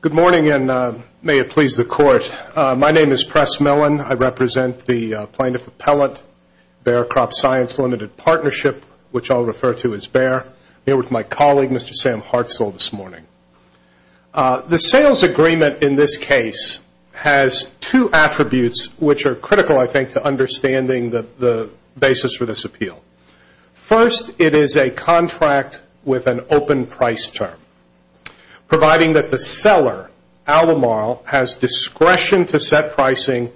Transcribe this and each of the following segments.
Good morning and may it please the court. My name is Press Millen. I represent the plaintiff appellant, Baer CropScience Limited Partnership, which I'll refer to as Baer. I'm here with my colleague, Mr. Sam Hartzell, this morning. The sales agreement in this case has two attributes which are critical, I think, to understanding the basis for this appeal. First, it is a contract with an open price term, providing that the seller, Albemarle, has discretion to set pricing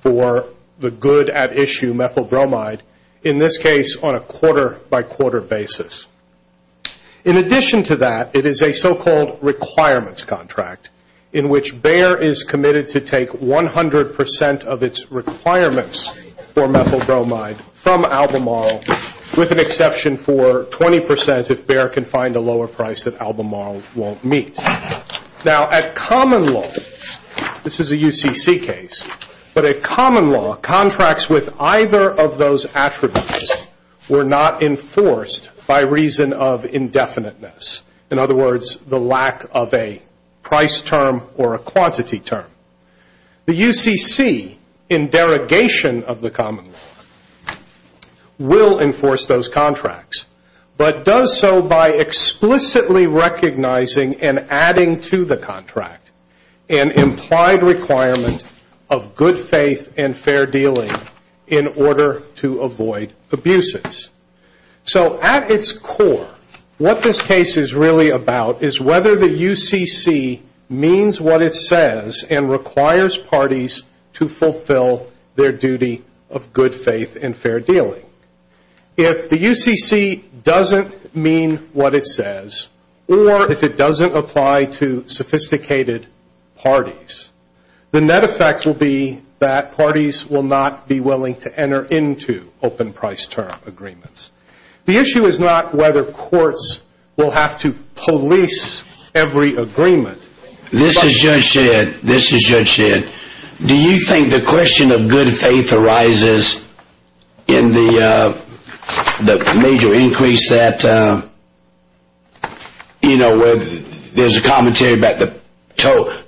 for the good at issue methyl bromide, in this case, on a quarter-by-quarter basis. In addition to that, it is a so-called requirements contract, in which Baer is committed to take 100% of its requirements for methyl bromide from Albemarle, with an exception for 20% if Baer can find a lower price that Albemarle won't meet. Now, at common law, this is a UCC case, but at common law, contracts with either of those attributes were not enforced by reason of indefiniteness, in other words, the lack of a price term or a quantity term. The UCC, in derogation of the common law, will enforce those contracts, but does so by explicitly recognizing and adding to the contract an implied requirement of good faith and fair dealing in order to avoid abuses. So, at its core, what this case is really about is whether the UCC means what it says and requires parties to fulfill their duty of good faith and fair dealing. If the UCC doesn't mean what it says, or if it doesn't apply to sophisticated parties, the net effect will be that parties will not be willing to enter into open price term agreements. The issue is not whether courts will have to police every agreement. This is Judge Shedd. This is Judge Shedd. Do you think the question of good faith arises in the major increase that, you know, there's a commentary about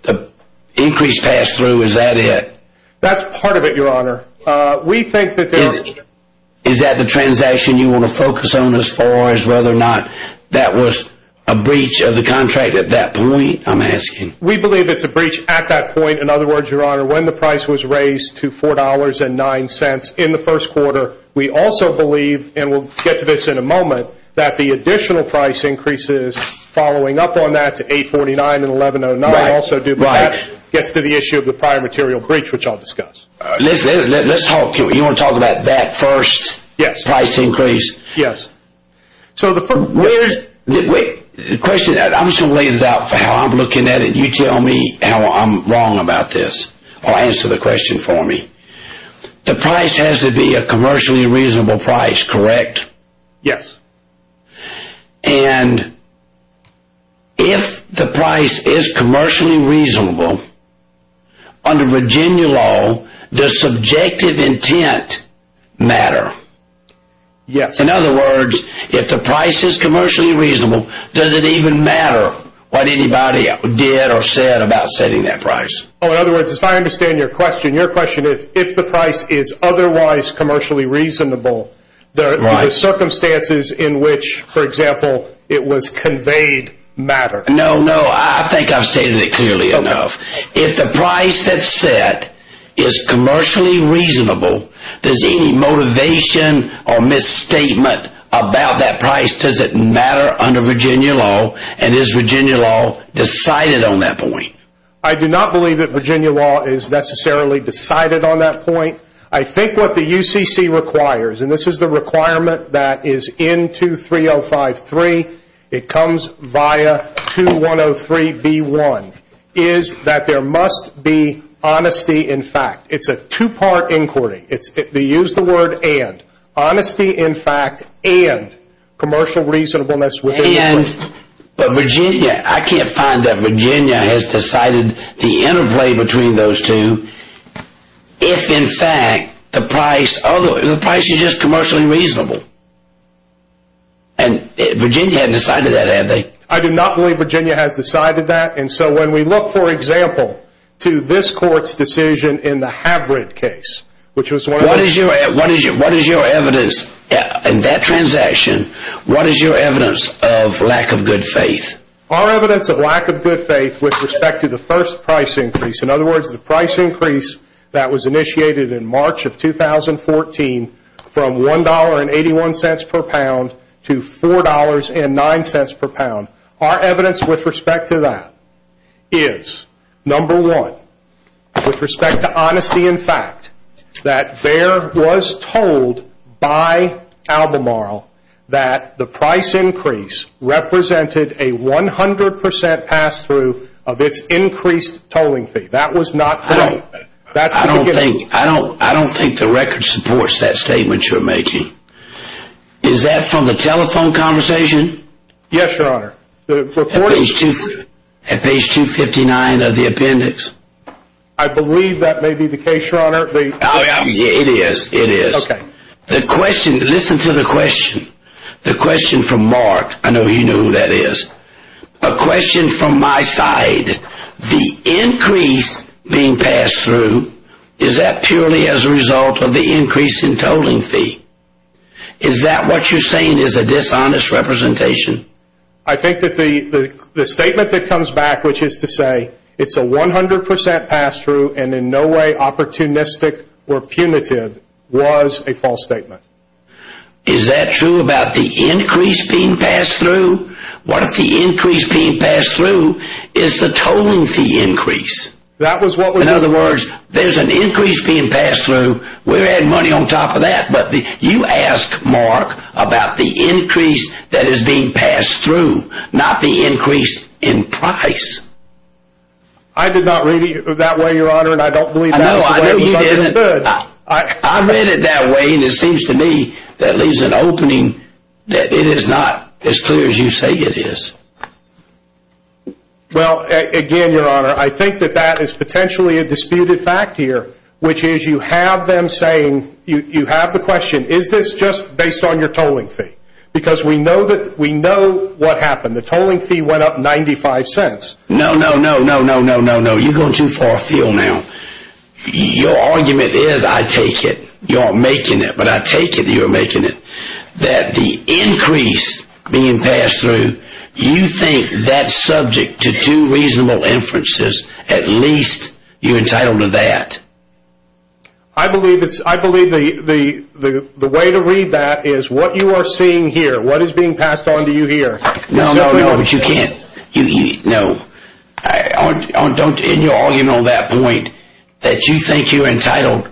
the increased pass-through, is that it? That's part of it, Your Honor. We think that there are... Is that the transaction you want to focus on as far as whether or not that was a breach of the contract at that point, I'm asking? We believe it's a breach at that point. In other words, Your Honor, when the price was raised to $4.09 in the first quarter, we also believe, and we'll get to this in a moment, that the additional price increases following up on that to $8.49 and $11.09 also do, but that gets to the issue of the prior material breach, which I'll discuss. Let's talk. You want to talk about that first price increase? Yes. The question... I'm just going to lay this out for how I'm looking at it. You tell me how I'm wrong about this, or answer the question for me. The price has to be a commercially reasonable price, correct? Yes. And if the price is commercially reasonable, under Virginia law, does subjective intent matter? Yes. In other words, if the price is commercially reasonable, does it even matter what anybody did or said about setting that price? Oh, in other words, if I understand your question, your question is, if the price is otherwise commercially reasonable, the circumstances in which, for example, it was conveyed matter? No, no, I think I've stated it clearly enough. If the price that's set is commercially reasonable, does any motivation or misstatement about that price, does it matter under Virginia law, and is Virginia law decided on that point? I do not believe that Virginia law is necessarily decided on that point. I think what the UCC requires, and this is the requirement that is in 23053, it comes via 2103b1, is that there must be honesty in fact. It's a two-part inquiry. They use the word and. Honesty in fact and commercial reasonableness within the law. But Virginia, I can't find that Virginia has decided the interplay between those two, if in fact the price is just commercially reasonable. And Virginia hadn't decided that, had they? I do not believe Virginia has decided that, and so when we look, for example, to this court's decision in the Havrid case, which was one of the. In that transaction, what is your evidence of lack of good faith? Our evidence of lack of good faith with respect to the first price increase, in other words, the price increase that was initiated in March of 2014 from $1.81 per pound to $4.09 per pound. Our evidence with respect to that is, number one, with respect to honesty in fact, that there was told by Albemarle that the price increase represented a 100% pass-through of its increased tolling fee. That was not correct. I don't think the record supports that statement you're making. Is that from the telephone conversation? Yes, Your Honor. At page 259 of the appendix? I believe that may be the case, Your Honor. It is, it is. Okay. The question, listen to the question. The question from Mark, I know you know who that is. A question from my side. The increase being passed through, is that purely as a result of the increase in tolling fee? Is that what you're saying is a dishonest representation? I think that the statement that comes back, which is to say it's a 100% pass-through and in no way opportunistic or punitive, was a false statement. Is that true about the increase being passed through? What if the increase being passed through is the tolling fee increase? That was what was... In other words, there's an increase being passed through. We're adding money on top of that. You ask Mark about the increase that is being passed through, not the increase in price. I did not read it that way, Your Honor, and I don't believe that's the way it was understood. I read it that way, and it seems to me that leaves an opening that it is not as clear as you say it is. Well, again, Your Honor, I think that that is potentially a disputed fact here, which is you have them saying... You have the question, is this just based on your tolling fee? Because we know what happened. The tolling fee went up 95 cents. No, no, no, no, no, no, no, no. You're going too far afield now. Your argument is, I take it, you're making it, but I take it you're making it, that the increase being passed through, you think that's subject to two reasonable inferences. At least you're entitled to that. I believe the way to read that is what you are seeing here, what is being passed on to you here. No, no, no, but you can't. No. In your argument on that point, that you think you're entitled...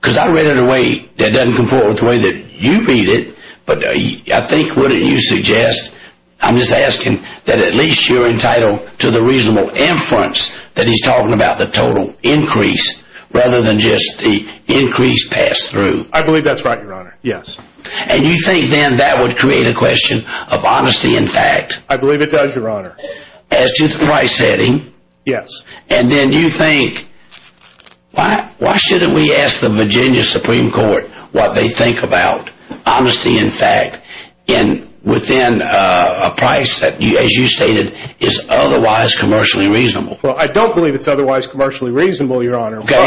Because I read it in a way that doesn't comport with the way that you read it, but I think, wouldn't you suggest... I'm just asking that at least you're entitled to the reasonable inference that he's talking about, the total increase, rather than just the increase passed through. I believe that's right, Your Honor, yes. And you think then that would create a question of honesty in fact? I believe it does, Your Honor. As to the price setting? Yes. And then you think, why shouldn't we ask the Virginia Supreme Court what they think about honesty in fact, within a price that, as you stated, is otherwise commercially reasonable? Well, I don't believe it's otherwise commercially reasonable, Your Honor. Okay.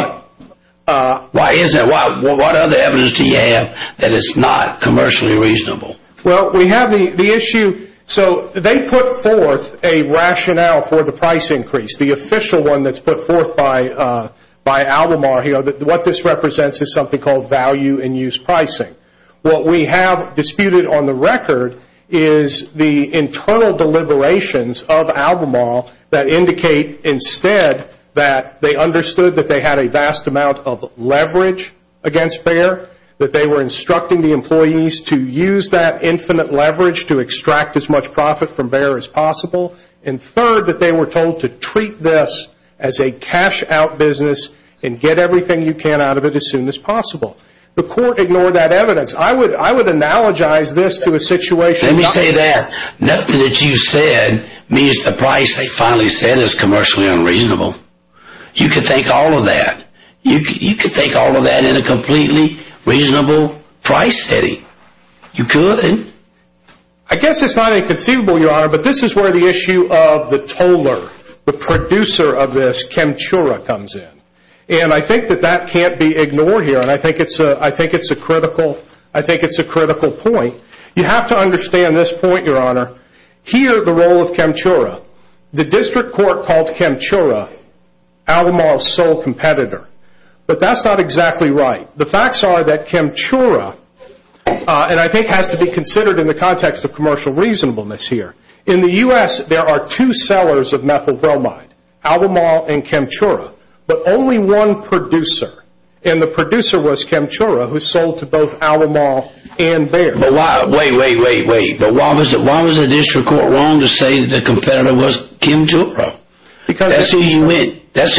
Why is that? What other evidence do you have that it's not commercially reasonable? Well, we have the issue... So they put forth a rationale for the price increase, the official one that's put forth by Albemarle. What this represents is something called value-in-use pricing. What we have disputed on the record is the internal deliberations of Albemarle that indicate instead that they understood that they had a vast amount of leverage against Bayer, that they were instructing the employees to use that infinite leverage to extract as much profit from Bayer as possible, and third, that they were told to treat this as a cash-out business and get everything you can out of it as soon as possible. The court ignored that evidence. I would analogize this to a situation... Let me say that. Nothing that you said means the price they finally set is commercially unreasonable. You can think all of that. You could think all of that in a completely reasonable price setting. You could. I guess it's not inconceivable, Your Honor, but this is where the issue of the toller, the producer of this, Chemtura, comes in. And I think that that can't be ignored here, and I think it's a critical point. You have to understand this point, Your Honor. Here, the role of Chemtura. The district court called Chemtura Alomar's sole competitor, but that's not exactly right. The facts are that Chemtura, and I think has to be considered in the context of commercial reasonableness here, in the U.S. there are two sellers of methyl bromide, Alomar and Chemtura, but only one producer, and the producer was Chemtura, who sold to both Alomar and Bayer. Wait, wait, wait, wait. Why was the district court wrong to say that the competitor was Chemtura? That's who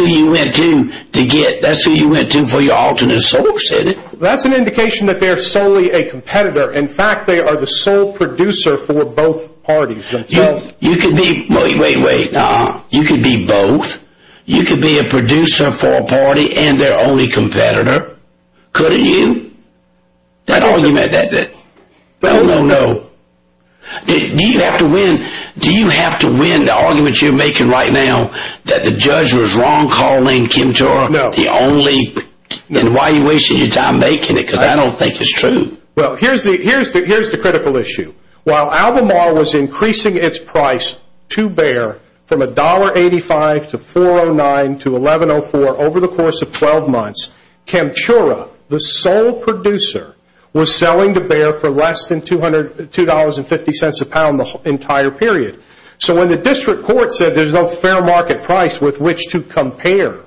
you went to to get. That's who you went to for your alternate source, isn't it? That's an indication that they're solely a competitor. In fact, they are the sole producer for both parties. Wait, wait, wait. You could be both. You could be a producer for a party and their only competitor. Couldn't you? That argument, that no, no, no, do you have to win the argument you're making right now that the judge was wrong calling Chemtura the only, and why are you wasting your time making it, because I don't think it's true. Well, here's the critical issue. While Alomar was increasing its price to Bayer from $1.85 to $4.09 to $11.04 over the course of 12 months, Chemtura, the sole producer, was selling to Bayer for less than $2.50 a pound the entire period. So when the district court said there's no fair market price with which to compare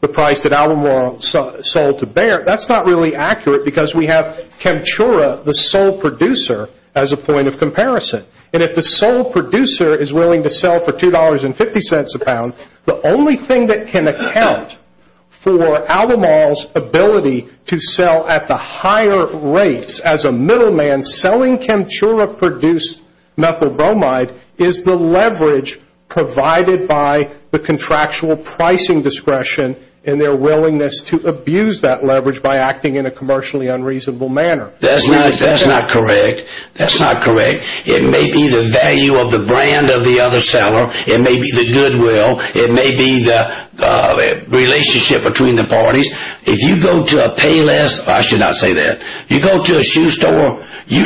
the price that Alomar sold to Bayer, that's not really accurate because we have Chemtura, the sole producer, as a point of comparison. And if the sole producer is willing to sell for $2.50 a pound, the only thing that can account for Alomar's ability to sell at the higher rates as a middleman selling Chemtura-produced methyl bromide is the leverage provided by the contractual pricing discretion and their willingness to abuse that leverage by acting in a commercially unreasonable manner. That's not correct. That's not correct. It may be the value of the brand of the other seller. It may be the goodwill. It may be the relationship between the parties. If you go to a shoe store, you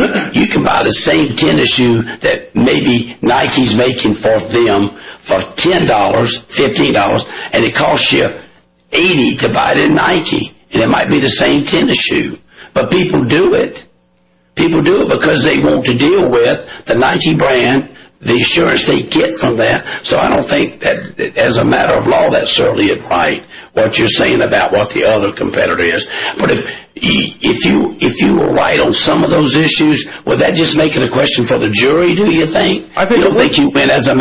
can buy the same tennis shoe that maybe Nike's making for them for $10, $15, and it costs you $80 to buy it in Nike, and it might be the same tennis shoe. But people do it. People do it because they want to deal with the Nike brand, the assurance they get from that. So I don't think that as a matter of law, that's certainly right, what you're saying about what the other competitor is. But if you were right on some of those issues, would that just make it a question for the jury, do you think? You think you win as a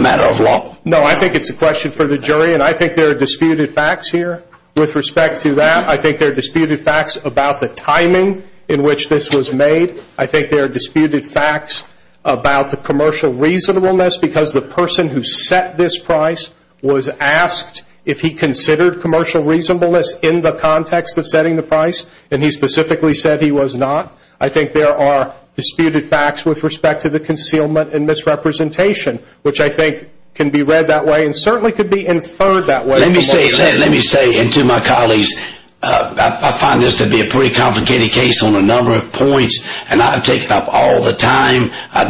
matter of law? No, I think it's a question for the jury, and I think there are disputed facts here with respect to that. I think there are disputed facts about the timing in which this was made. I think there are disputed facts about the commercial reasonableness, because the person who set this price was asked if he considered commercial reasonableness in the context of setting the price, and he specifically said he was not. I think there are disputed facts with respect to the concealment and misrepresentation, which I think can be read that way and certainly could be inferred that way. Let me say to my colleagues, I find this to be a pretty complicated case on a number of points, and I've taken up all the time. I'm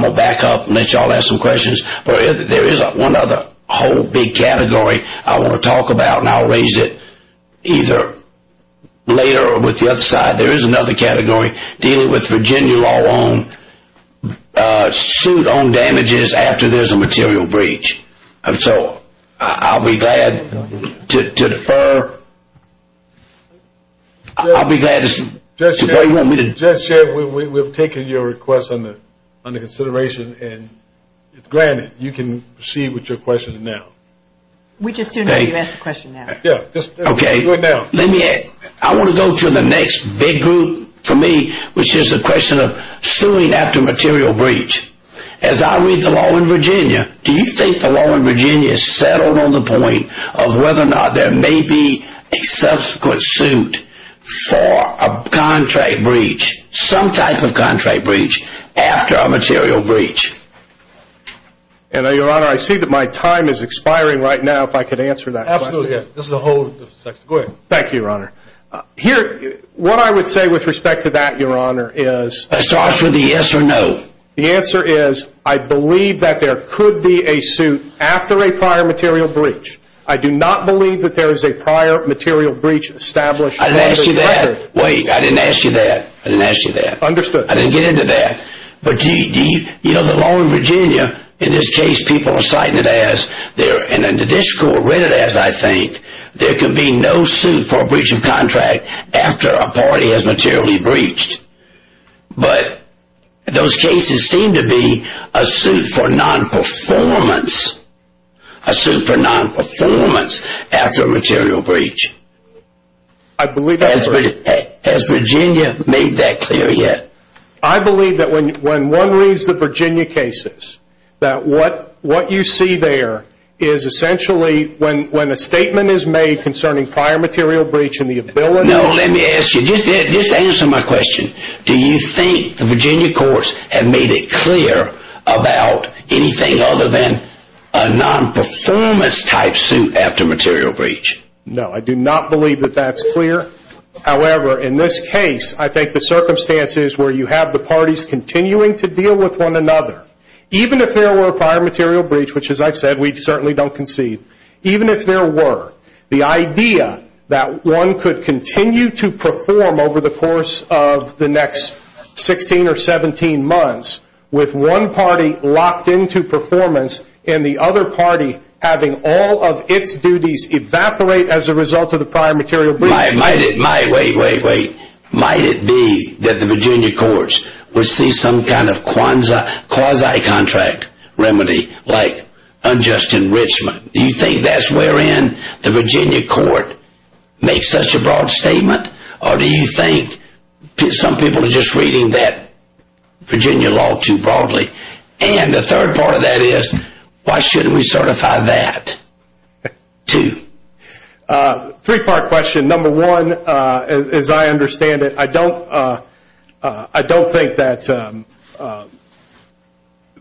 going to back up and let you all ask some questions. But there is one other whole big category I want to talk about, and I'll raise it either later or with the other side. There is another category dealing with Virginia law on suit on damages after there's a material breach. So I'll be glad to defer. I'll be glad to say what you want me to say. Judge, we've taken your request under consideration, and granted, you can proceed with your questions now. We just do not need to ask the question now. Okay. I want to go to the next big group for me, which is the question of suing after material breach. As I read the law in Virginia, do you think the law in Virginia is settled on the point of whether or not there may be a subsequent suit for a contract breach, some type of contract breach, after a material breach? Your Honor, I see that my time is expiring right now, if I could answer that question. Absolutely. Go ahead. Thank you, Your Honor. What I would say with respect to that, Your Honor, is… It starts with the yes or no. The answer is, I believe that there could be a suit after a prior material breach. I do not believe that there is a prior material breach established. I didn't ask you that. Wait. I didn't ask you that. I didn't ask you that. Understood. I didn't get into that. But the law in Virginia, in this case, people are citing it as, and the district court read it as, I think, there could be no suit for a breach of contract after a party has materially breached. But those cases seem to be a suit for non-performance, a suit for non-performance after a material breach. I believe that's correct. Has Virginia made that clear yet? I believe that when one reads the Virginia cases, that what you see there is essentially, when a statement is made concerning prior material breach and the ability… No, let me ask you. Just answer my question. Do you think the Virginia courts have made it clear about anything other than a non-performance type suit after material breach? No, I do not believe that that's clear. However, in this case, I think the circumstances where you have the parties continuing to deal with one another, even if there were a prior material breach, which, as I've said, we certainly don't concede, even if there were, the idea that one could continue to perform over the course of the next 16 or 17 months with one party locked into performance and the other party having all of its duties evaporate as a result of the prior material breach. Wait, wait, wait. Might it be that the Virginia courts would see some kind of quasi-contract remedy like unjust enrichment? Do you think that's wherein the Virginia court makes such a broad statement? Or do you think some people are just reading that Virginia law too broadly? And the third part of that is, why shouldn't we certify that too? Three-part question. Number one, as I understand it, I don't think that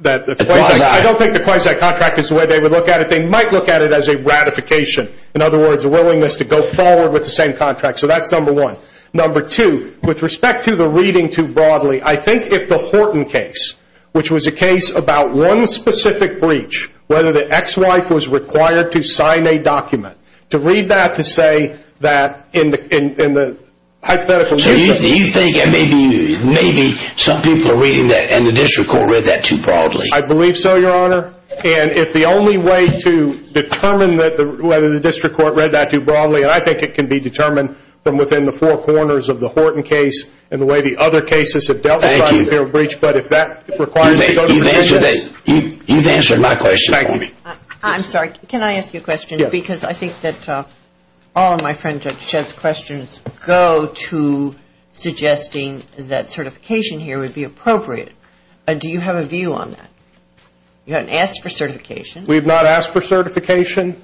the quasi-contract is the way they would look at it. They might look at it as a ratification. In other words, a willingness to go forward with the same contract. So that's number one. Number two, with respect to the reading too broadly, I think if the Horton case, which was a case about one specific breach, whether the ex-wife was required to sign a document, to read that to say that in the hypothetical... So you think maybe some people are reading that and the district court read that too broadly? I believe so, Your Honor. And if the only way to determine whether the district court read that too broadly, and I think it can be determined from within the four corners of the Horton case and the way the other cases have dealt with the breach, but if that requires... You've answered my question. I'm sorry. Can I ask you a question? Yes. Because I think that all of my friend Judge Shedd's questions go to suggesting that certification here would be appropriate. Do you have a view on that? You haven't asked for certification. We have not asked for certification.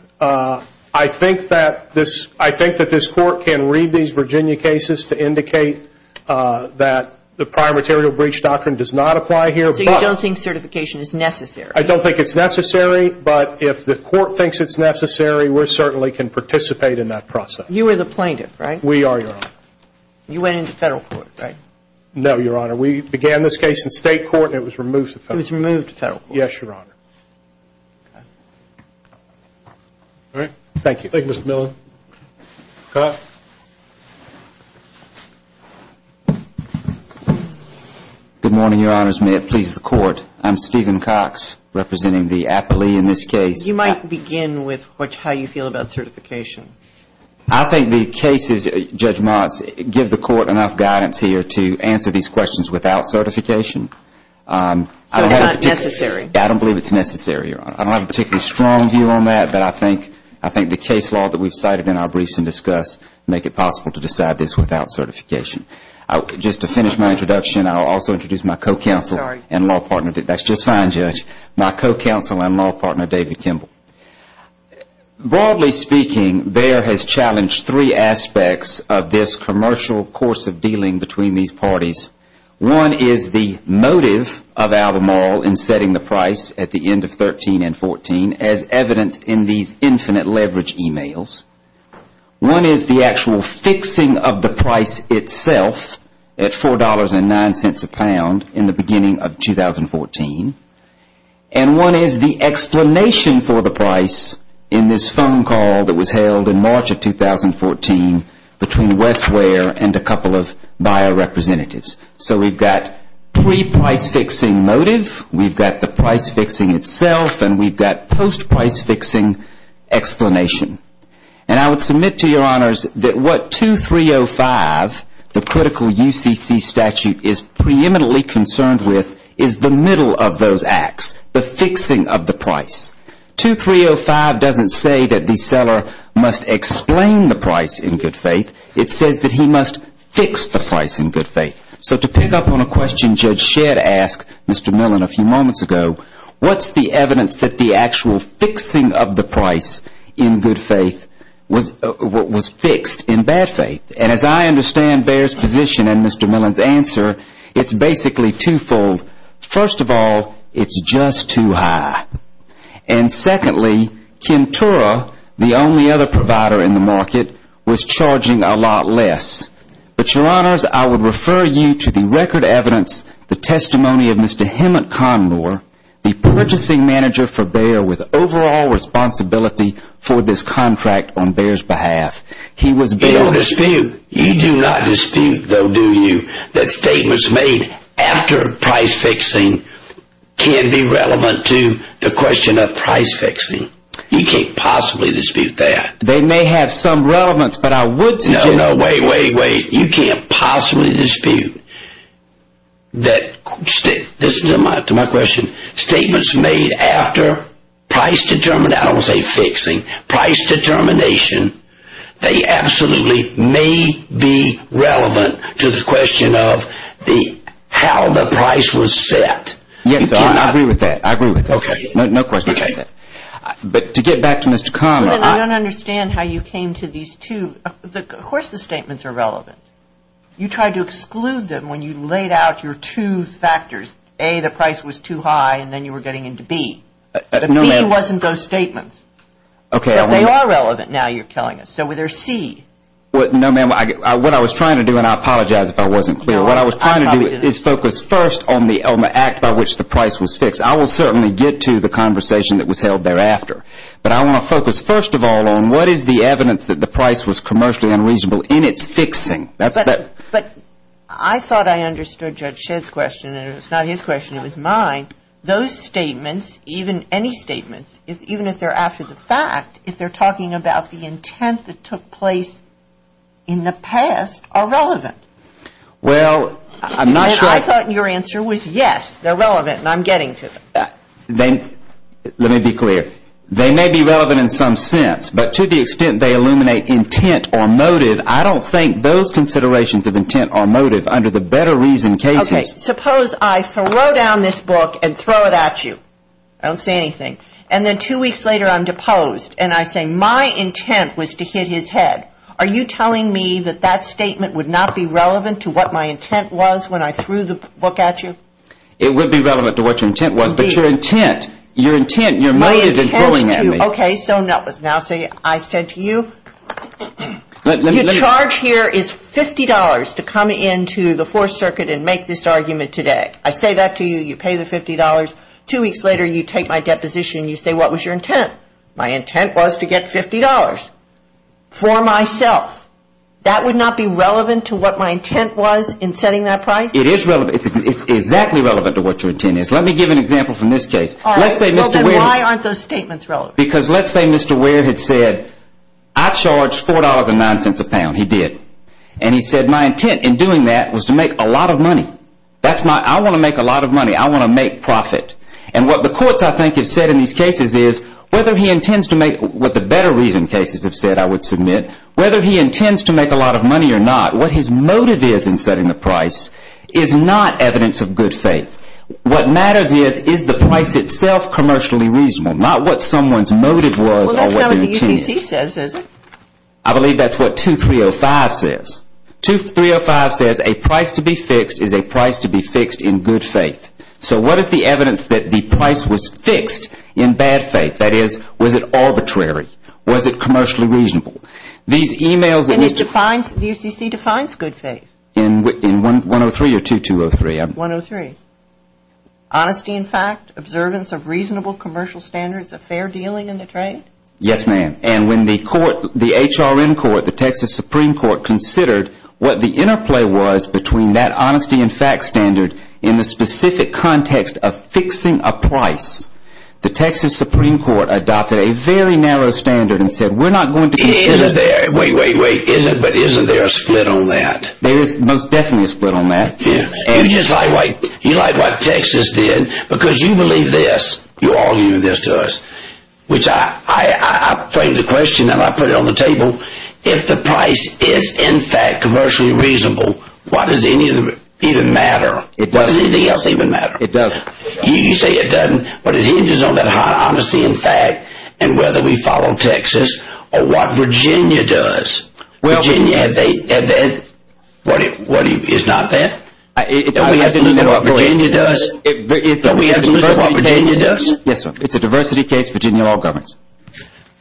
I think that this court can read these Virginia cases to indicate that the prior material breach doctrine does not apply here. So you don't think certification is necessary? I don't think it's necessary, but if the court thinks it's necessary, we certainly can participate in that process. You are the plaintiff, right? We are, Your Honor. You went into federal court, right? No, Your Honor. We began this case in state court and it was removed to federal court. It was removed to federal court. Yes, Your Honor. All right. Thank you. Thank you, Mr. Millen. Cox. Good morning, Your Honors. May it please the Court. I'm Stephen Cox representing the appellee in this case. You might begin with how you feel about certification. I think the case's judgments give the court enough guidance here to answer these questions without certification. So it's not necessary? I don't believe it's necessary, Your Honor. I don't have a particularly strong view on that, but I think the case law that we've cited in our briefs and discussed make it possible to decide this without certification. Just to finish my introduction, I'll also introduce my co-counsel and law partner. That's just fine, Judge. My co-counsel and law partner, David Kimball. Broadly speaking, BEHR has challenged three aspects of this commercial course of dealing between these parties. One is the motive of Albemarle in setting the price at the end of 13 and 14 as evidenced in these infinite leverage emails. One is the actual fixing of the price itself at $4.09 a pound in the beginning of 2014. And one is the explanation for the price in this phone call that was held in March of 2014 between Westwear and a couple of buyer representatives. So we've got pre-price fixing motive, we've got the price fixing itself, and we've got post-price fixing explanation. And I would submit to Your Honors that what 2305, the critical UCC statute, is preeminently concerned with is the middle of those acts, the fixing of the price. 2305 doesn't say that the seller must explain the price in good faith. It says that he must fix the price in good faith. So to pick up on a question Judge Shedd asked Mr. Millen a few moments ago, what's the evidence that the actual fixing of the price in good faith was fixed in bad faith? And as I understand BEHR's position and Mr. Millen's answer, it's basically twofold. First of all, it's just too high. And secondly, Kim Tura, the only other provider in the market, was charging a lot less. But Your Honors, I would refer you to the record evidence, the testimony of Mr. Hemant Khandor, the purchasing manager for BEHR with overall responsibility for this contract on BEHR's behalf. You don't dispute. You do not dispute though, do you, that statements made after price fixing can be relevant to the question of price fixing. You can't possibly dispute that. They may have some relevance, but I would suggest... No, no, wait, wait, wait. You can't possibly dispute that...this is to my question. Statements made after price determination, I don't want to say fixing, price determination, they absolutely may be relevant to the question of how the price was set. Yes, Your Honor, I agree with that. I agree with that. Okay. No question about that. But to get back to Mr. Khandor... I don't understand how you came to these two. Of course the statements are relevant. You tried to exclude them when you laid out your two factors. A, the price was too high, and then you were getting into B. No, ma'am. But B wasn't those statements. Okay. But they are relevant now you're telling us. So there's C. No, ma'am. What I was trying to do, and I apologize if I wasn't clear. What I was trying to do is focus first on the act by which the price was fixed. I will certainly get to the conversation that was held thereafter. But I want to focus first of all on what is the evidence that the price was commercially unreasonable in its fixing. But I thought I understood Judge Shedd's question, and it was not his question, it was mine. Those statements, even any statements, even if they're after the fact, if they're talking about the intent that took place in the past, are relevant. Well, I'm not sure I... I thought your answer was yes, they're relevant, and I'm getting to them. Let me be clear. They may be relevant in some sense, but to the extent they illuminate intent or motive, I don't think those considerations of intent or motive under the better reason cases... Okay. Suppose I throw down this book and throw it at you. I don't say anything. And then two weeks later I'm deposed, and I say my intent was to hit his head. Are you telling me that that statement would not be relevant to what my intent was when I threw the book at you? It would be relevant to what your intent was, but your intent, your intent, your motive in throwing at me... Okay, so now say I said to you, your charge here is $50 to come into the Fourth Circuit and make this argument today. I say that to you, you pay the $50. Two weeks later you take my deposition and you say, what was your intent? My intent was to get $50 for myself. That would not be relevant to what my intent was in setting that price? It is relevant. It's exactly relevant to what your intent is. Let me give an example from this case. All right. Well, then why aren't those statements relevant? Because let's say Mr. Ware had said, I charge $4.09 a pound. He did. And he said my intent in doing that was to make a lot of money. I want to make a lot of money. I want to make profit. And what the courts, I think, have said in these cases is whether he intends to make what the better reason cases have said I would submit, whether he intends to make a lot of money or not, what his motive is in setting the price is not evidence of good faith. What matters is, is the price itself commercially reasonable? Not what someone's motive was. Well, that's not what the UCC says, is it? I believe that's what 2305 says. 2305 says a price to be fixed is a price to be fixed in good faith. So what is the evidence that the price was fixed in bad faith? That is, was it arbitrary? Was it commercially reasonable? And the UCC defines good faith. In 103 or 2203? 103. Honesty in fact, observance of reasonable commercial standards of fair dealing in the trade? Yes, ma'am. And when the HRN court, the Texas Supreme Court, considered what the interplay was between that honesty in fact standard and the specific context of fixing a price, the Texas Supreme Court adopted a very narrow standard and said we're not going to Wait, wait, wait, but isn't there a split on that? There is most definitely a split on that. You like what Texas did because you believe this, you're arguing this to us, which I frame the question and I put it on the table. If the price is in fact commercially reasonable, why does any of it even matter? It doesn't. Why does anything else even matter? It doesn't. You say it doesn't, but it hinges on that honesty in fact and whether we follow Texas or what Virginia does. Virginia, is not that? Don't we have to look at what Virginia does? Don't we have to look at what Virginia does? Yes, sir. It's a diversity case. Virginia law governs.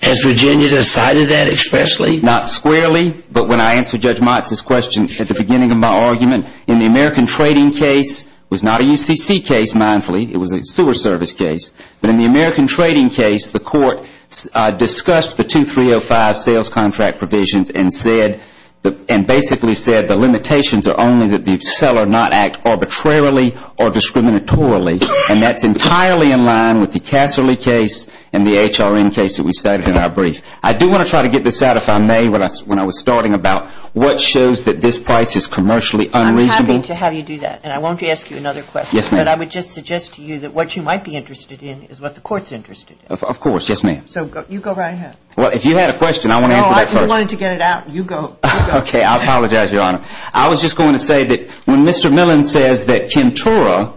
Has Virginia decided that expressly? Not squarely. But when I answered Judge Motz's question at the beginning of my argument, in the American trading case, it was not a UCC case, mindfully, it was a sewer service case, but in the American trading case, the court discussed the 2305 sales contract provisions and basically said the limitations are only that the seller not act arbitrarily or discriminatorily. And that's entirely in line with the Casserly case and the HRN case that we cited in our brief. I do want to try to get this out, if I may, when I was starting about what shows that this price is commercially unreasonable. I'm happy to have you do that. And I won't ask you another question. Yes, ma'am. But I would just suggest to you that what you might be interested in is what the court's interested in. Of course. Yes, ma'am. So you go right ahead. Well, if you had a question, I want to answer that first. No, I wanted to get it out. You go. Okay. I apologize, Your Honor. I was just going to say that when Mr. Millon says that Kentora,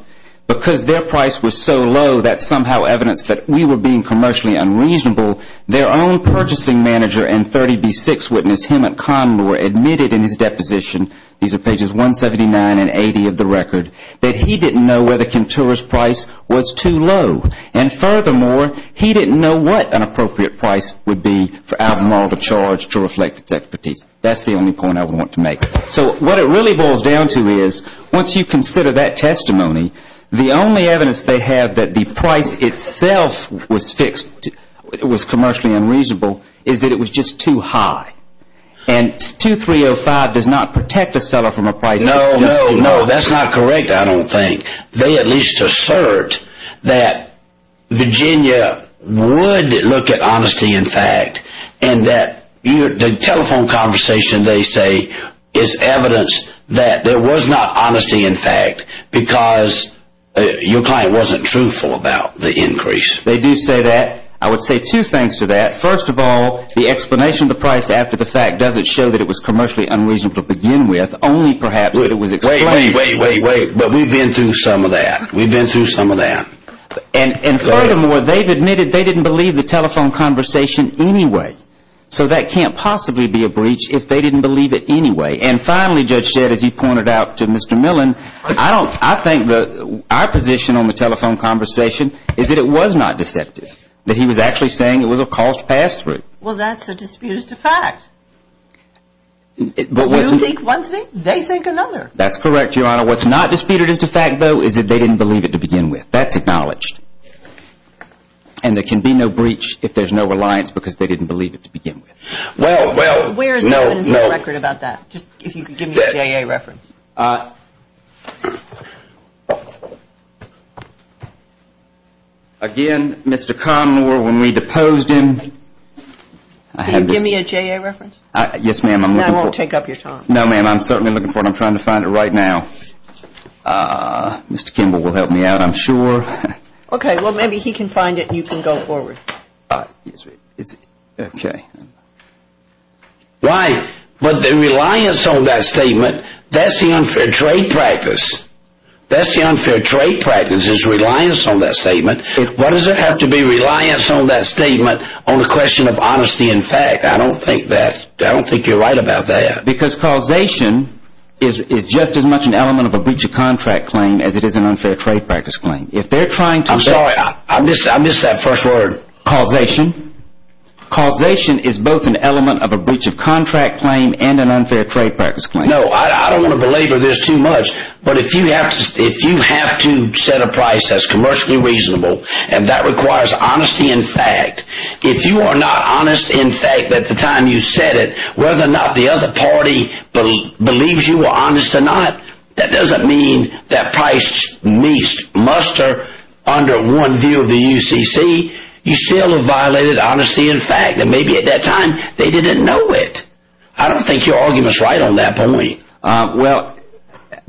because their price was so low, that's somehow evidence that we were being commercially unreasonable, their own purchasing manager and 30B6 witness, Hemant Kanwar, admitted in his deposition, these are pages 179 and 80 of the record, that he didn't know whether Kentora's price was too low. And furthermore, he didn't know what an appropriate price would be for Albemarle to charge to reflect its expertise. That's the only point I want to make. So what it really boils down to is once you consider that testimony, the only evidence they have that the price itself was fixed, it was commercially unreasonable, is that it was just too high. And 2305 does not protect a seller from a price that is too high. No, no, that's not correct, I don't think. They at least assert that Virginia would look at honesty and fact, and that the telephone conversation, they say, is evidence that there was not honesty in fact, because your client wasn't truthful about the increase. They do say that. I would say two things to that. First of all, the explanation of the price after the fact doesn't show that it was commercially unreasonable to begin with, only perhaps that it was explained. Wait, wait, wait, but we've been through some of that. We've been through some of that. And furthermore, they've admitted they didn't believe the telephone conversation anyway. So that can't possibly be a breach if they didn't believe it anyway. And finally, Judge Shedd, as you pointed out to Mr. Millen, I think our position on the telephone conversation is that it was not deceptive, that he was actually saying it was a cost pass-through. Well, that's a disputed as to fact. But we'll take one thing, they take another. That's correct, Your Honor. Now, what's not disputed as to fact, though, is that they didn't believe it to begin with. That's acknowledged. And there can be no breach if there's no reliance because they didn't believe it to begin with. Well, well, no, no. Where is the evidence in the record about that? Just if you could give me a J.A. reference. Again, Mr. Conner, when we deposed him, I had this. Can you give me a J.A. reference? Yes, ma'am, I'm looking for it. Now, I won't take up your time. No, ma'am, I'm certainly looking for it. I'm trying to find it right now. Mr. Kimball will help me out, I'm sure. Okay, well, maybe he can find it and you can go forward. Right, but the reliance on that statement, that's the unfair trade practice. That's the unfair trade practice is reliance on that statement. Why does there have to be reliance on that statement on the question of honesty and fact? I don't think you're right about that. Because causation is just as much an element of a breach of contract claim as it is an unfair trade practice claim. I'm sorry, I missed that first word. Causation. Causation is both an element of a breach of contract claim and an unfair trade practice claim. No, I don't want to belabor this too much, but if you have to set a price that's commercially reasonable, and that requires honesty and fact, if you are not honest in fact at the time you set it, whether or not the other party believes you were honest or not, that doesn't mean that price muster under one view of the UCC. You still have violated honesty and fact, and maybe at that time they didn't know it. I don't think your argument is right on that point. Well,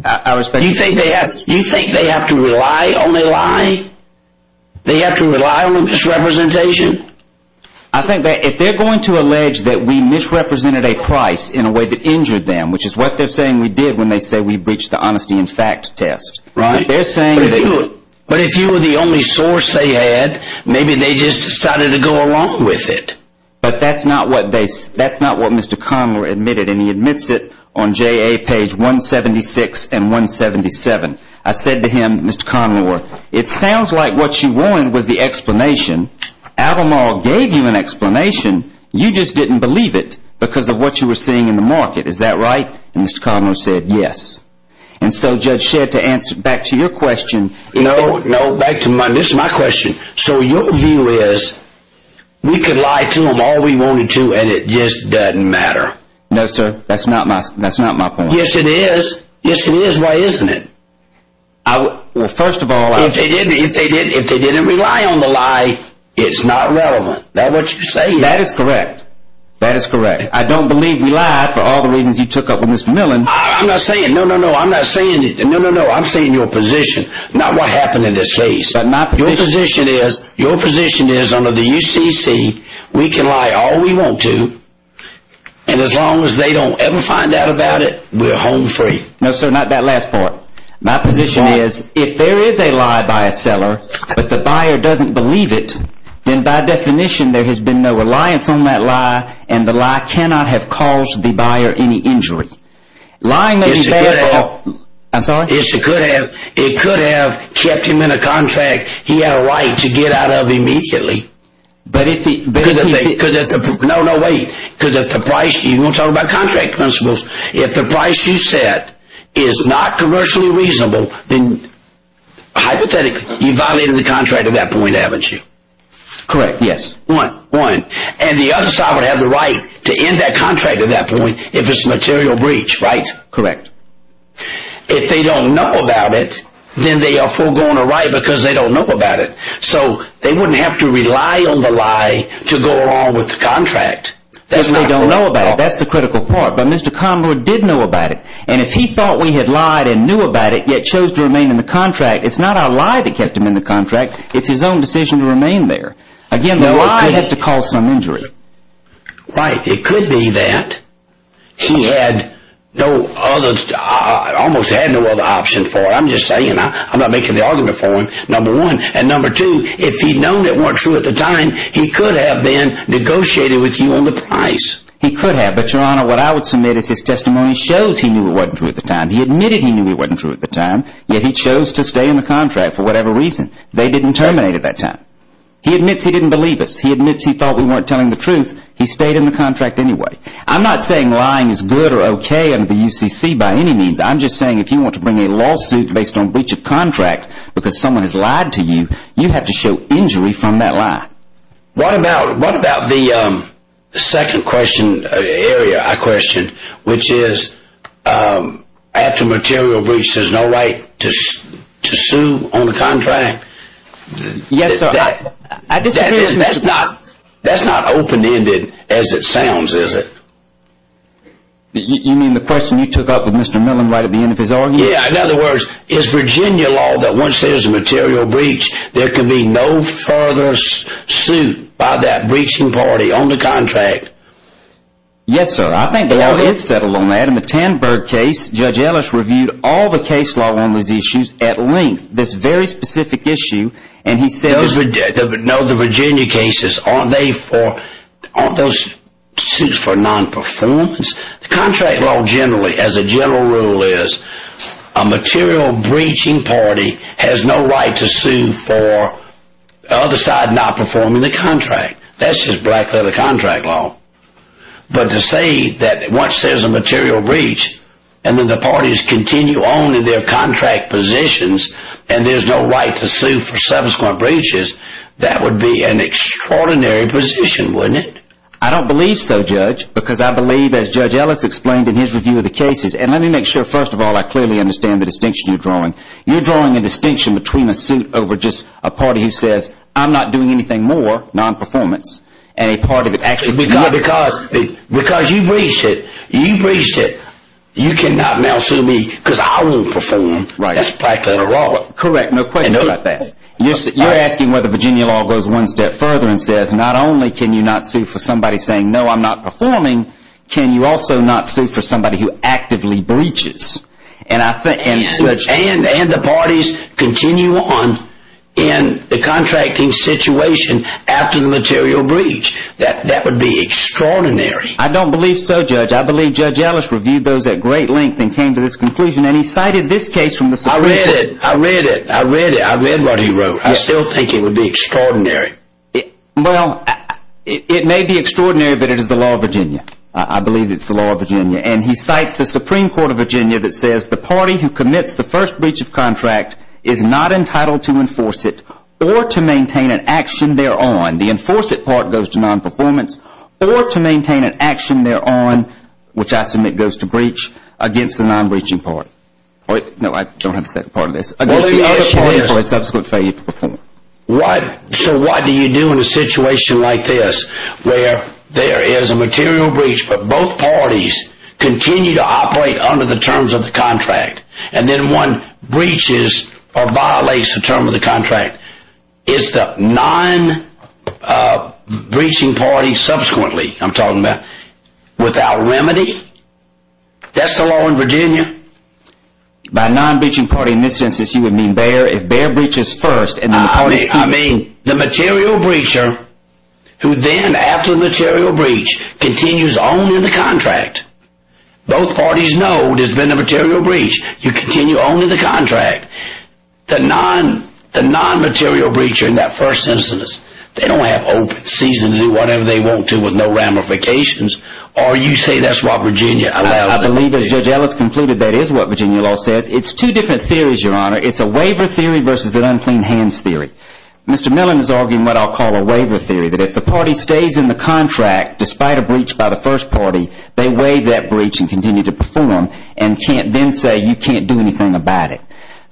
I respect that. You think they have to rely on a lie? They have to rely on a misrepresentation? I think that if they're going to allege that we misrepresented a price in a way that injured them, which is what they're saying we did when they say we breached the honesty and fact test. But if you were the only source they had, maybe they just decided to go along with it. But that's not what Mr. Conlor admitted, and he admits it on JA page 176 and 177. I said to him, Mr. Conlor, it sounds like what you want was the explanation. Adam Hall gave you an explanation. You just didn't believe it because of what you were seeing in the market. Is that right? And Mr. Conlor said yes. And so, Judge Shedd, to answer back to your question. No, no, back to my question. So your view is we could lie to them all we wanted to, and it just doesn't matter. No, sir, that's not my point. Yes, it is. Yes, it is. Why isn't it? Well, first of all. If they didn't rely on the lie, it's not relevant. Is that what you're saying? That is correct. That is correct. I don't believe we lied for all the reasons you took up with Mr. Millen. I'm not saying. No, no, no, I'm not saying. No, no, no, I'm saying your position, not what happened in this case. Your position is under the UCC, we can lie all we want to, and as long as they don't ever find out about it, we're home free. No, sir, not that last part. My position is if there is a lie by a seller, but the buyer doesn't believe it, then by definition there has been no reliance on that lie, and the lie cannot have caused the buyer any injury. It could have. I'm sorry? It could have. It could have kept him in a contract he had a right to get out of immediately. But if he. No, no, wait. Because if the price. You want to talk about contract principles. If the price you set is not commercially reasonable, then hypothetically you violated the contract at that point, haven't you? Correct. Yes. One. One. And the other side would have the right to end that contract at that point if it's a material breach, right? Correct. If they don't know about it, then they are foregoing a right because they don't know about it. So they wouldn't have to rely on the lie to go along with the contract. If they don't know about it, that's the critical part. But Mr. Conroy did know about it, and if he thought we had lied and knew about it yet chose to remain in the contract, it's not our lie that kept him in the contract. It's his own decision to remain there. Again, the lie has to cause some injury. Right. It could be that he had no other, almost had no other option for it. I'm just saying. I'm not making the argument for him, number one. And number two, if he'd known it wasn't true at the time, he could have been negotiated with you on the price. He could have. But, Your Honor, what I would submit is his testimony shows he knew it wasn't true at the time. He admitted he knew it wasn't true at the time, yet he chose to stay in the contract for whatever reason. They didn't terminate at that time. He admits he didn't believe us. He admits he thought we weren't telling the truth. He stayed in the contract anyway. I'm not saying lying is good or okay under the UCC by any means. I'm just saying if you want to bring a lawsuit based on breach of contract because someone has lied to you, you have to show injury from that lie. What about the second area I questioned, which is after material breach, there's no right to sue on the contract? Yes, sir. That's not open-ended as it sounds, is it? You mean the question you took up with Mr. Mellon right at the end of his argument? Yeah. In other words, is Virginia law that once there's a material breach, there can be no further suit by that breaching party on the contract? Yes, sir. I think the law is settled on that. In the Tanberg case, Judge Ellis reviewed all the case law on those issues at length, this very specific issue. No, the Virginia cases, aren't those suits for non-performance? The contract law generally, as a general rule is, a material breaching party has no right to sue for the other side not performing the contract. That's just black leather contract law. But to say that once there's a material breach, and then the parties continue only their contract positions, and there's no right to sue for subsequent breaches, that would be an extraordinary position, wouldn't it? I don't believe so, Judge, because I believe, as Judge Ellis explained in his review of the cases, and let me make sure, first of all, I clearly understand the distinction you're drawing. You're drawing a distinction between a suit over just a party who says, I'm not doing anything more, non-performance, and a party that actually does it. Because you breached it, you breached it, you cannot now sue me because I won't perform, that's black leather law. Correct, no question about that. You're asking whether Virginia law goes one step further and says, not only can you not sue for somebody saying, no, I'm not performing, can you also not sue for somebody who actively breaches? And the parties continue on in the contracting situation after the material breach. That would be extraordinary. I don't believe so, Judge. I believe Judge Ellis reviewed those at great length and came to this conclusion, and he cited this case from the Supreme Court. I read it. I read it. I read what he wrote. I still think it would be extraordinary. Well, it may be extraordinary, but it is the law of Virginia. I believe it's the law of Virginia. And he cites the Supreme Court of Virginia that says, the party who commits the first breach of contract is not entitled to enforce it or to maintain an action thereon. The enforce it part goes to non-performance or to maintain an action thereon, which I submit goes to breach, against the non-breaching part. No, I don't have the second part of this. Against the other part for a subsequent failure to perform. So what do you do in a situation like this where there is a material breach, but both parties continue to operate under the terms of the contract, and then one breaches or violates the terms of the contract? Is the non-breaching party subsequently, I'm talking about, without remedy? That's the law in Virginia. By non-breaching party, in this instance, you would mean Bayer. If Bayer breaches first and then the parties continue. I mean, the material breacher, who then, after the material breach, continues on in the contract. Both parties know there's been a material breach. You continue on in the contract. The non-material breacher in that first instance, they don't have open season to do whatever they want to with no ramifications. Or you say that's what Virginia allows. I believe, as Judge Ellis concluded, that is what Virginia law says. It's two different theories, Your Honor. It's a waiver theory versus an unclean hands theory. Mr. Millen is arguing what I'll call a waiver theory. That if the party stays in the contract, despite a breach by the first party, they waive that breach and continue to perform, and can't then say you can't do anything about it.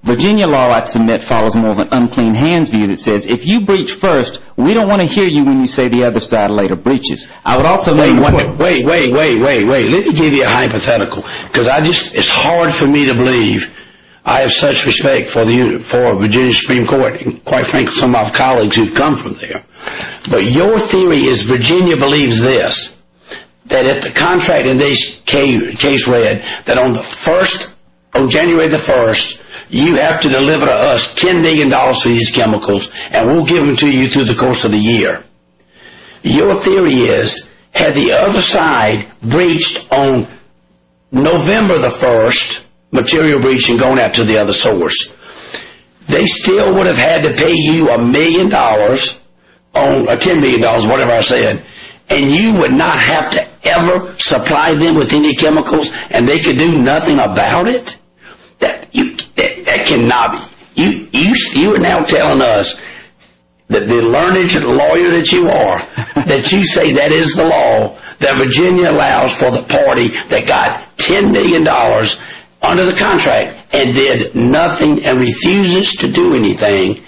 Virginia law, I'd submit, follows more of an unclean hands view that says, if you breach first, we don't want to hear you when you say the other side later breaches. Wait, wait, wait. Let me give you a hypothetical. It's hard for me to believe I have such respect for Virginia Supreme Court, and quite frankly, some of my colleagues who've come from there. But your theory is Virginia believes this. That if the contract in this case read that on January 1st, you have to deliver to us $10 million for these chemicals, and we'll give them to you through the course of the year. Your theory is, had the other side breached on November 1st, material breaching going out to the other source, they still would have had to pay you $10 million, whatever I said. And you would not have to ever supply them with any chemicals, and they could do nothing about it? That cannot be. You are now telling us that the learned lawyer that you are, that you say that is the law, that Virginia allows for the party that got $10 million under the contract and did nothing and refuses to do anything.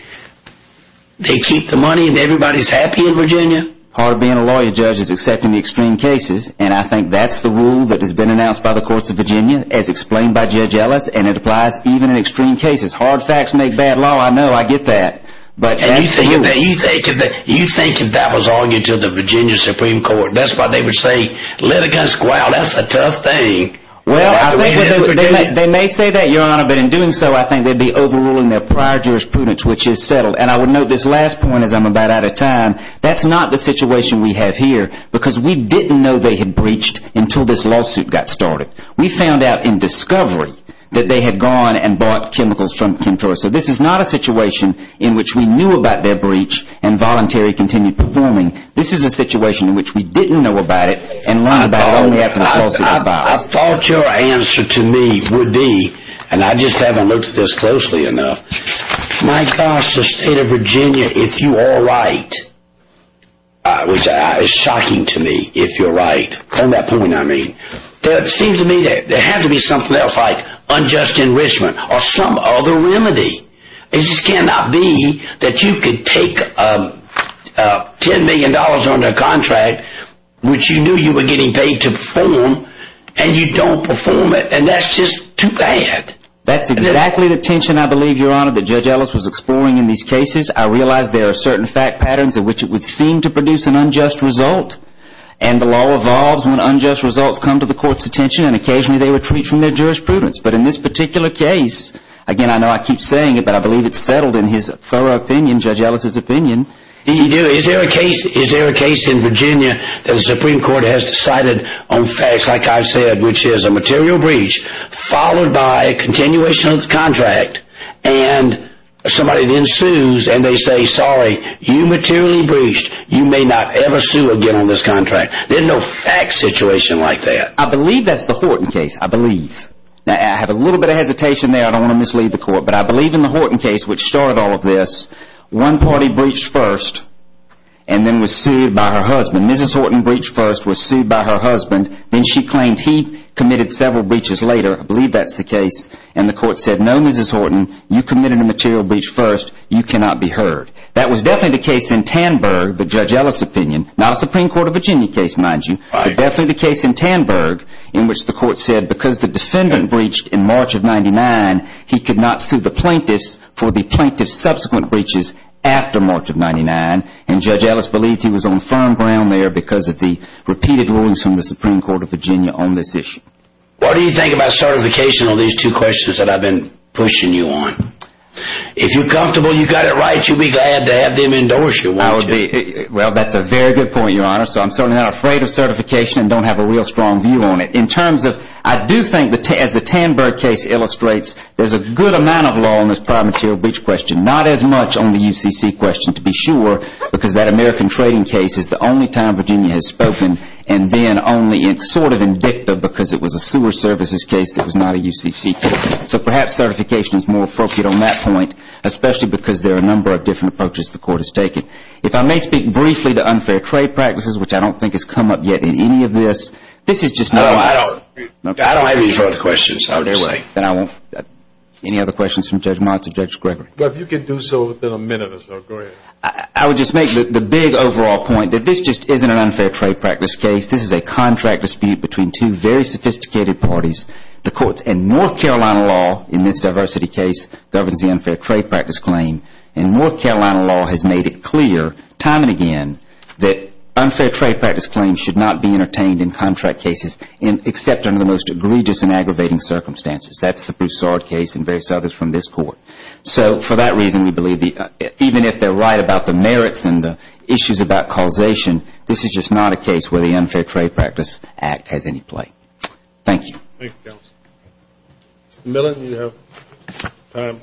They keep the money and everybody's happy in Virginia? Part of being a lawyer, Judge, is accepting the extreme cases, and I think that's the rule that has been announced by the courts of Virginia, as explained by Judge Ellis, and it applies even in extreme cases. Hard facts make bad law, I know, I get that. And you think if that was argued to the Virginia Supreme Court, that's why they would say, litigants, wow, that's a tough thing. Well, they may say that, Your Honor, but in doing so, I think they'd be overruling their prior jurisprudence, which is settled. And I would note this last point, as I'm about out of time, that's not the situation we have here, because we didn't know they had breached until this lawsuit got started. We found out in discovery that they had gone and bought chemicals from Kim Torres. So this is not a situation in which we knew about their breach and voluntarily continued performing. This is a situation in which we didn't know about it and learned about it only after this lawsuit was filed. I thought your answer to me would be, and I just haven't looked at this closely enough, my gosh, the state of Virginia, if you are right, which is shocking to me, if you're right, on that point I mean, but it seems to me that there had to be something else, like unjust enrichment or some other remedy. It just cannot be that you could take $10 million under a contract, which you knew you were getting paid to perform, and you don't perform it, and that's just too bad. That's exactly the tension, I believe, Your Honor, that Judge Ellis was exploring in these cases. I realize there are certain fact patterns in which it would seem to produce an unjust result. And the law evolves when unjust results come to the court's attention, and occasionally they retreat from their jurisprudence. But in this particular case, again, I know I keep saying it, but I believe it's settled in his thorough opinion, Judge Ellis' opinion. Is there a case in Virginia that the Supreme Court has decided on facts, like I've said, which is a material breach followed by a continuation of the contract, and somebody then sues, and they say, sorry, you materially breached, you may not ever sue again on this contract. There's no fact situation like that. I believe that's the Horton case, I believe. Now, I have a little bit of hesitation there, I don't want to mislead the court, but I believe in the Horton case, which started all of this, one party breached first, and then was sued by her husband. Mrs. Horton breached first, was sued by her husband, then she claimed he committed several breaches later, I believe that's the case, and the court said, no, Mrs. Horton, you committed a material breach first, you cannot be heard. That was definitely the case in Tanberg, the Judge Ellis' opinion, not a Supreme Court of Virginia case, mind you, but definitely the case in Tanberg, in which the court said because the defendant breached in March of 99, he could not sue the plaintiffs for the plaintiff's subsequent breaches after March of 99, and Judge Ellis believed he was on firm ground there because of the repeated rulings from the Supreme Court of Virginia on this issue. What do you think about certification on these two questions that I've been pushing you on? If you're comfortable you got it right, you'll be glad to have them endorse you, won't you? Well, that's a very good point, Your Honor, so I'm certainly not afraid of certification and don't have a real strong view on it. In terms of, I do think, as the Tanberg case illustrates, there's a good amount of law on this prior material breach question, not as much on the UCC question, to be sure, because that American trading case is the only time Virginia has spoken and then only sort of indicative because it was a sewer services case that was not a UCC case. So perhaps certification is more appropriate on that point, especially because there are a number of different approaches the court has taken. If I may speak briefly to unfair trade practices, which I don't think has come up yet in any of this. I don't have any further questions. Then I won't. Any other questions from Judge Mons or Judge Gregory? Well, if you can do so within a minute or so, go ahead. I would just make the big overall point that this just isn't an unfair trade practice case. This is a contract dispute between two very sophisticated parties. The courts and North Carolina law in this diversity case governs the unfair trade practice claim, and North Carolina law has made it clear time and again that unfair trade practice claims should not be entertained in contract cases except under the most egregious and aggravating circumstances. That's the Broussard case and various others from this court. So for that reason, we believe even if they're right about the merits and the issues about causation, this is just not a case where the unfair trade practice act has any play. Thank you. Thank you, counsel. Mr. Millen, you have time.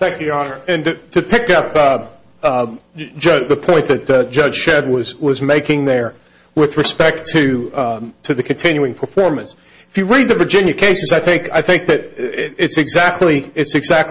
Thank you, Your Honor. And to pick up the point that Judge Shedd was making there with respect to the continuing performance, if you read the Virginia cases, I think that it's exactly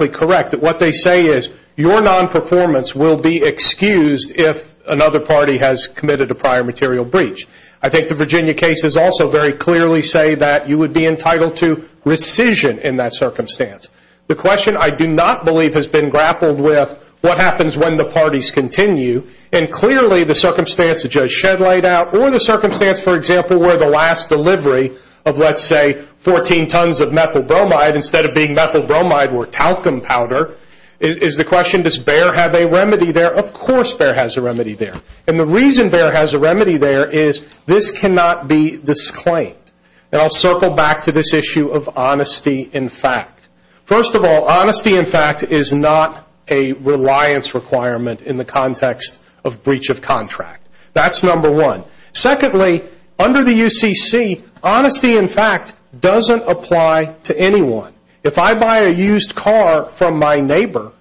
correct that what they say is your non-performance will be excused if another party has committed a prior material breach. I think the Virginia cases also very clearly say that you would be entitled to rescission in that circumstance. The question, I do not believe, has been grappled with what happens when the parties continue, and clearly the circumstance that Judge Shedd laid out or the circumstance, for example, where the last delivery of, let's say, 14 tons of methyl bromide instead of being methyl bromide or talcum powder, is the question does Baer have a remedy there? Of course Baer has a remedy there. And the reason Baer has a remedy there is this cannot be disclaimed. And I'll circle back to this issue of honesty in fact. First of all, honesty in fact is not a reliance requirement in the context of breach of contract. That's number one. Secondly, under the UCC, honesty in fact doesn't apply to anyone. If I buy a used car from my neighbor,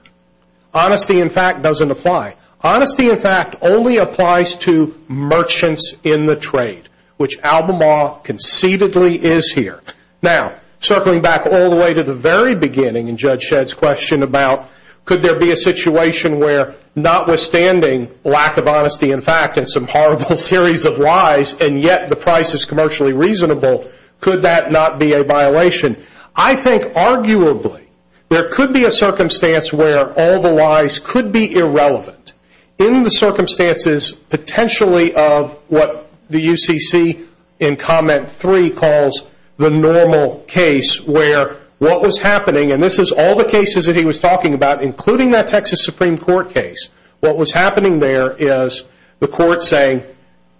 honesty in fact doesn't apply. Honesty in fact only applies to merchants in the trade, which Albemarle conceitedly is here. Now, circling back all the way to the very beginning in Judge Shedd's question about could there be a situation where notwithstanding lack of honesty in fact and some horrible series of lies, and yet the price is commercially reasonable, could that not be a violation? I think arguably there could be a circumstance where all the lies could be irrelevant in the circumstances potentially of what the UCC in comment three calls the normal case where what was happening, and this is all the cases that he was talking about, including that Texas Supreme Court case. What was happening there is the court saying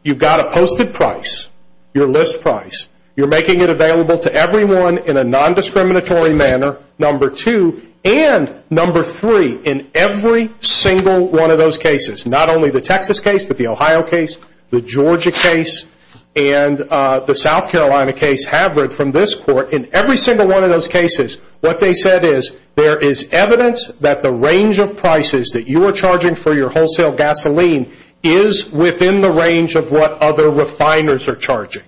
you've got a posted price, your list price. You're making it available to everyone in a non-discriminatory manner, number two. And number three, in every single one of those cases, not only the Texas case, but the Ohio case, the Georgia case, and the South Carolina case, Havrid, from this court, in every single one of those cases what they said is there is evidence that the range of prices that you are charging for your wholesale gasoline is within the range of what other refiners are charging.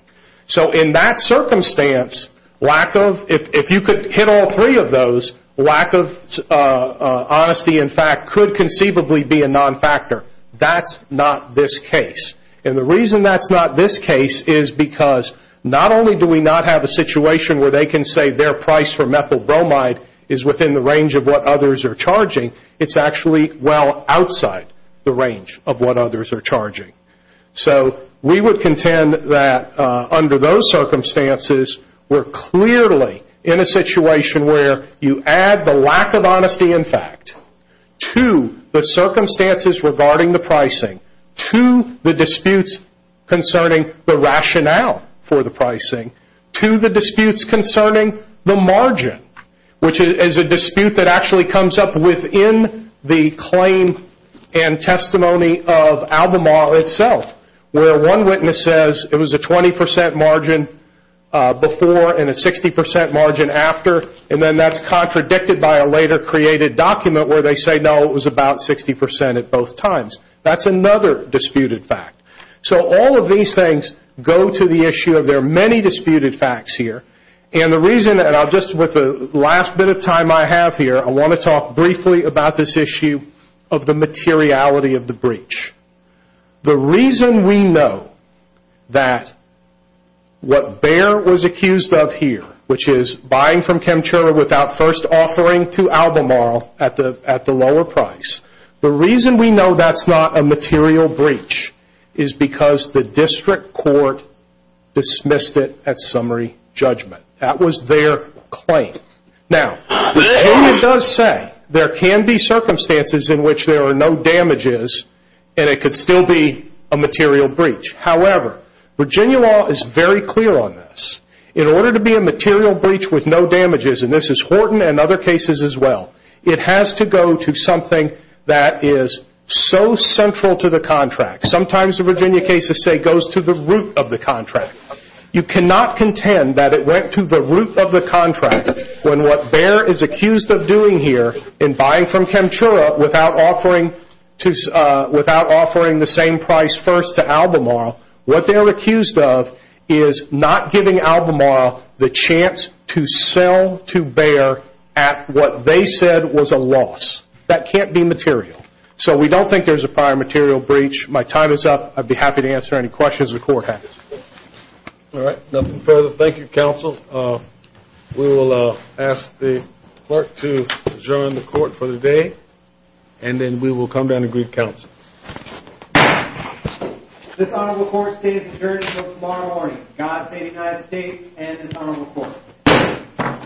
So in that circumstance, if you could hit all three of those, lack of honesty in fact could conceivably be a non-factor. That's not this case. And the reason that's not this case is because not only do we not have a situation where they can say their price for methyl bromide is within the range of what others are charging, it's actually well outside the range of what others are charging. So we would contend that under those circumstances we're clearly in a situation where you add the lack of honesty in fact to the circumstances regarding the pricing, to the disputes concerning the rationale for the pricing, to the disputes concerning the margin, which is a dispute that actually comes up within the claim and testimony of Albemarle itself, where one witness says it was a 20% margin before and a 60% margin after, and then that's contradicted by a later created document where they say, no, it was about 60% at both times. That's another disputed fact. So all of these things go to the issue of there are many disputed facts here, and the reason that I'll just, with the last bit of time I have here, I want to talk briefly about this issue of the materiality of the breach. The reason we know that what Baer was accused of here, which is buying from Chemtula without first offering to Albemarle at the lower price, the reason we know that's not a material breach is because the district court dismissed it at summary judgment. That was their claim. Now, Horton does say there can be circumstances in which there are no damages and it could still be a material breach. However, Virginia law is very clear on this. In order to be a material breach with no damages, and this is Horton and other cases as well, it has to go to something that is so central to the contract. Sometimes the Virginia cases say it goes to the root of the contract. You cannot contend that it went to the root of the contract when what Baer is accused of doing here in buying from Chemtula without offering the same price first to Albemarle, what they are accused of is not giving Albemarle the chance to sell to Baer at what they said was a loss. That can't be material. So we don't think there's a prior material breach. My time is up. I'd be happy to answer any questions the court has. All right. Nothing further. Thank you, counsel. We will ask the clerk to adjourn the court for the day, and then we will come down and greet counsel. This honorable court stays adjourned until tomorrow morning. God save the United States and this honorable court.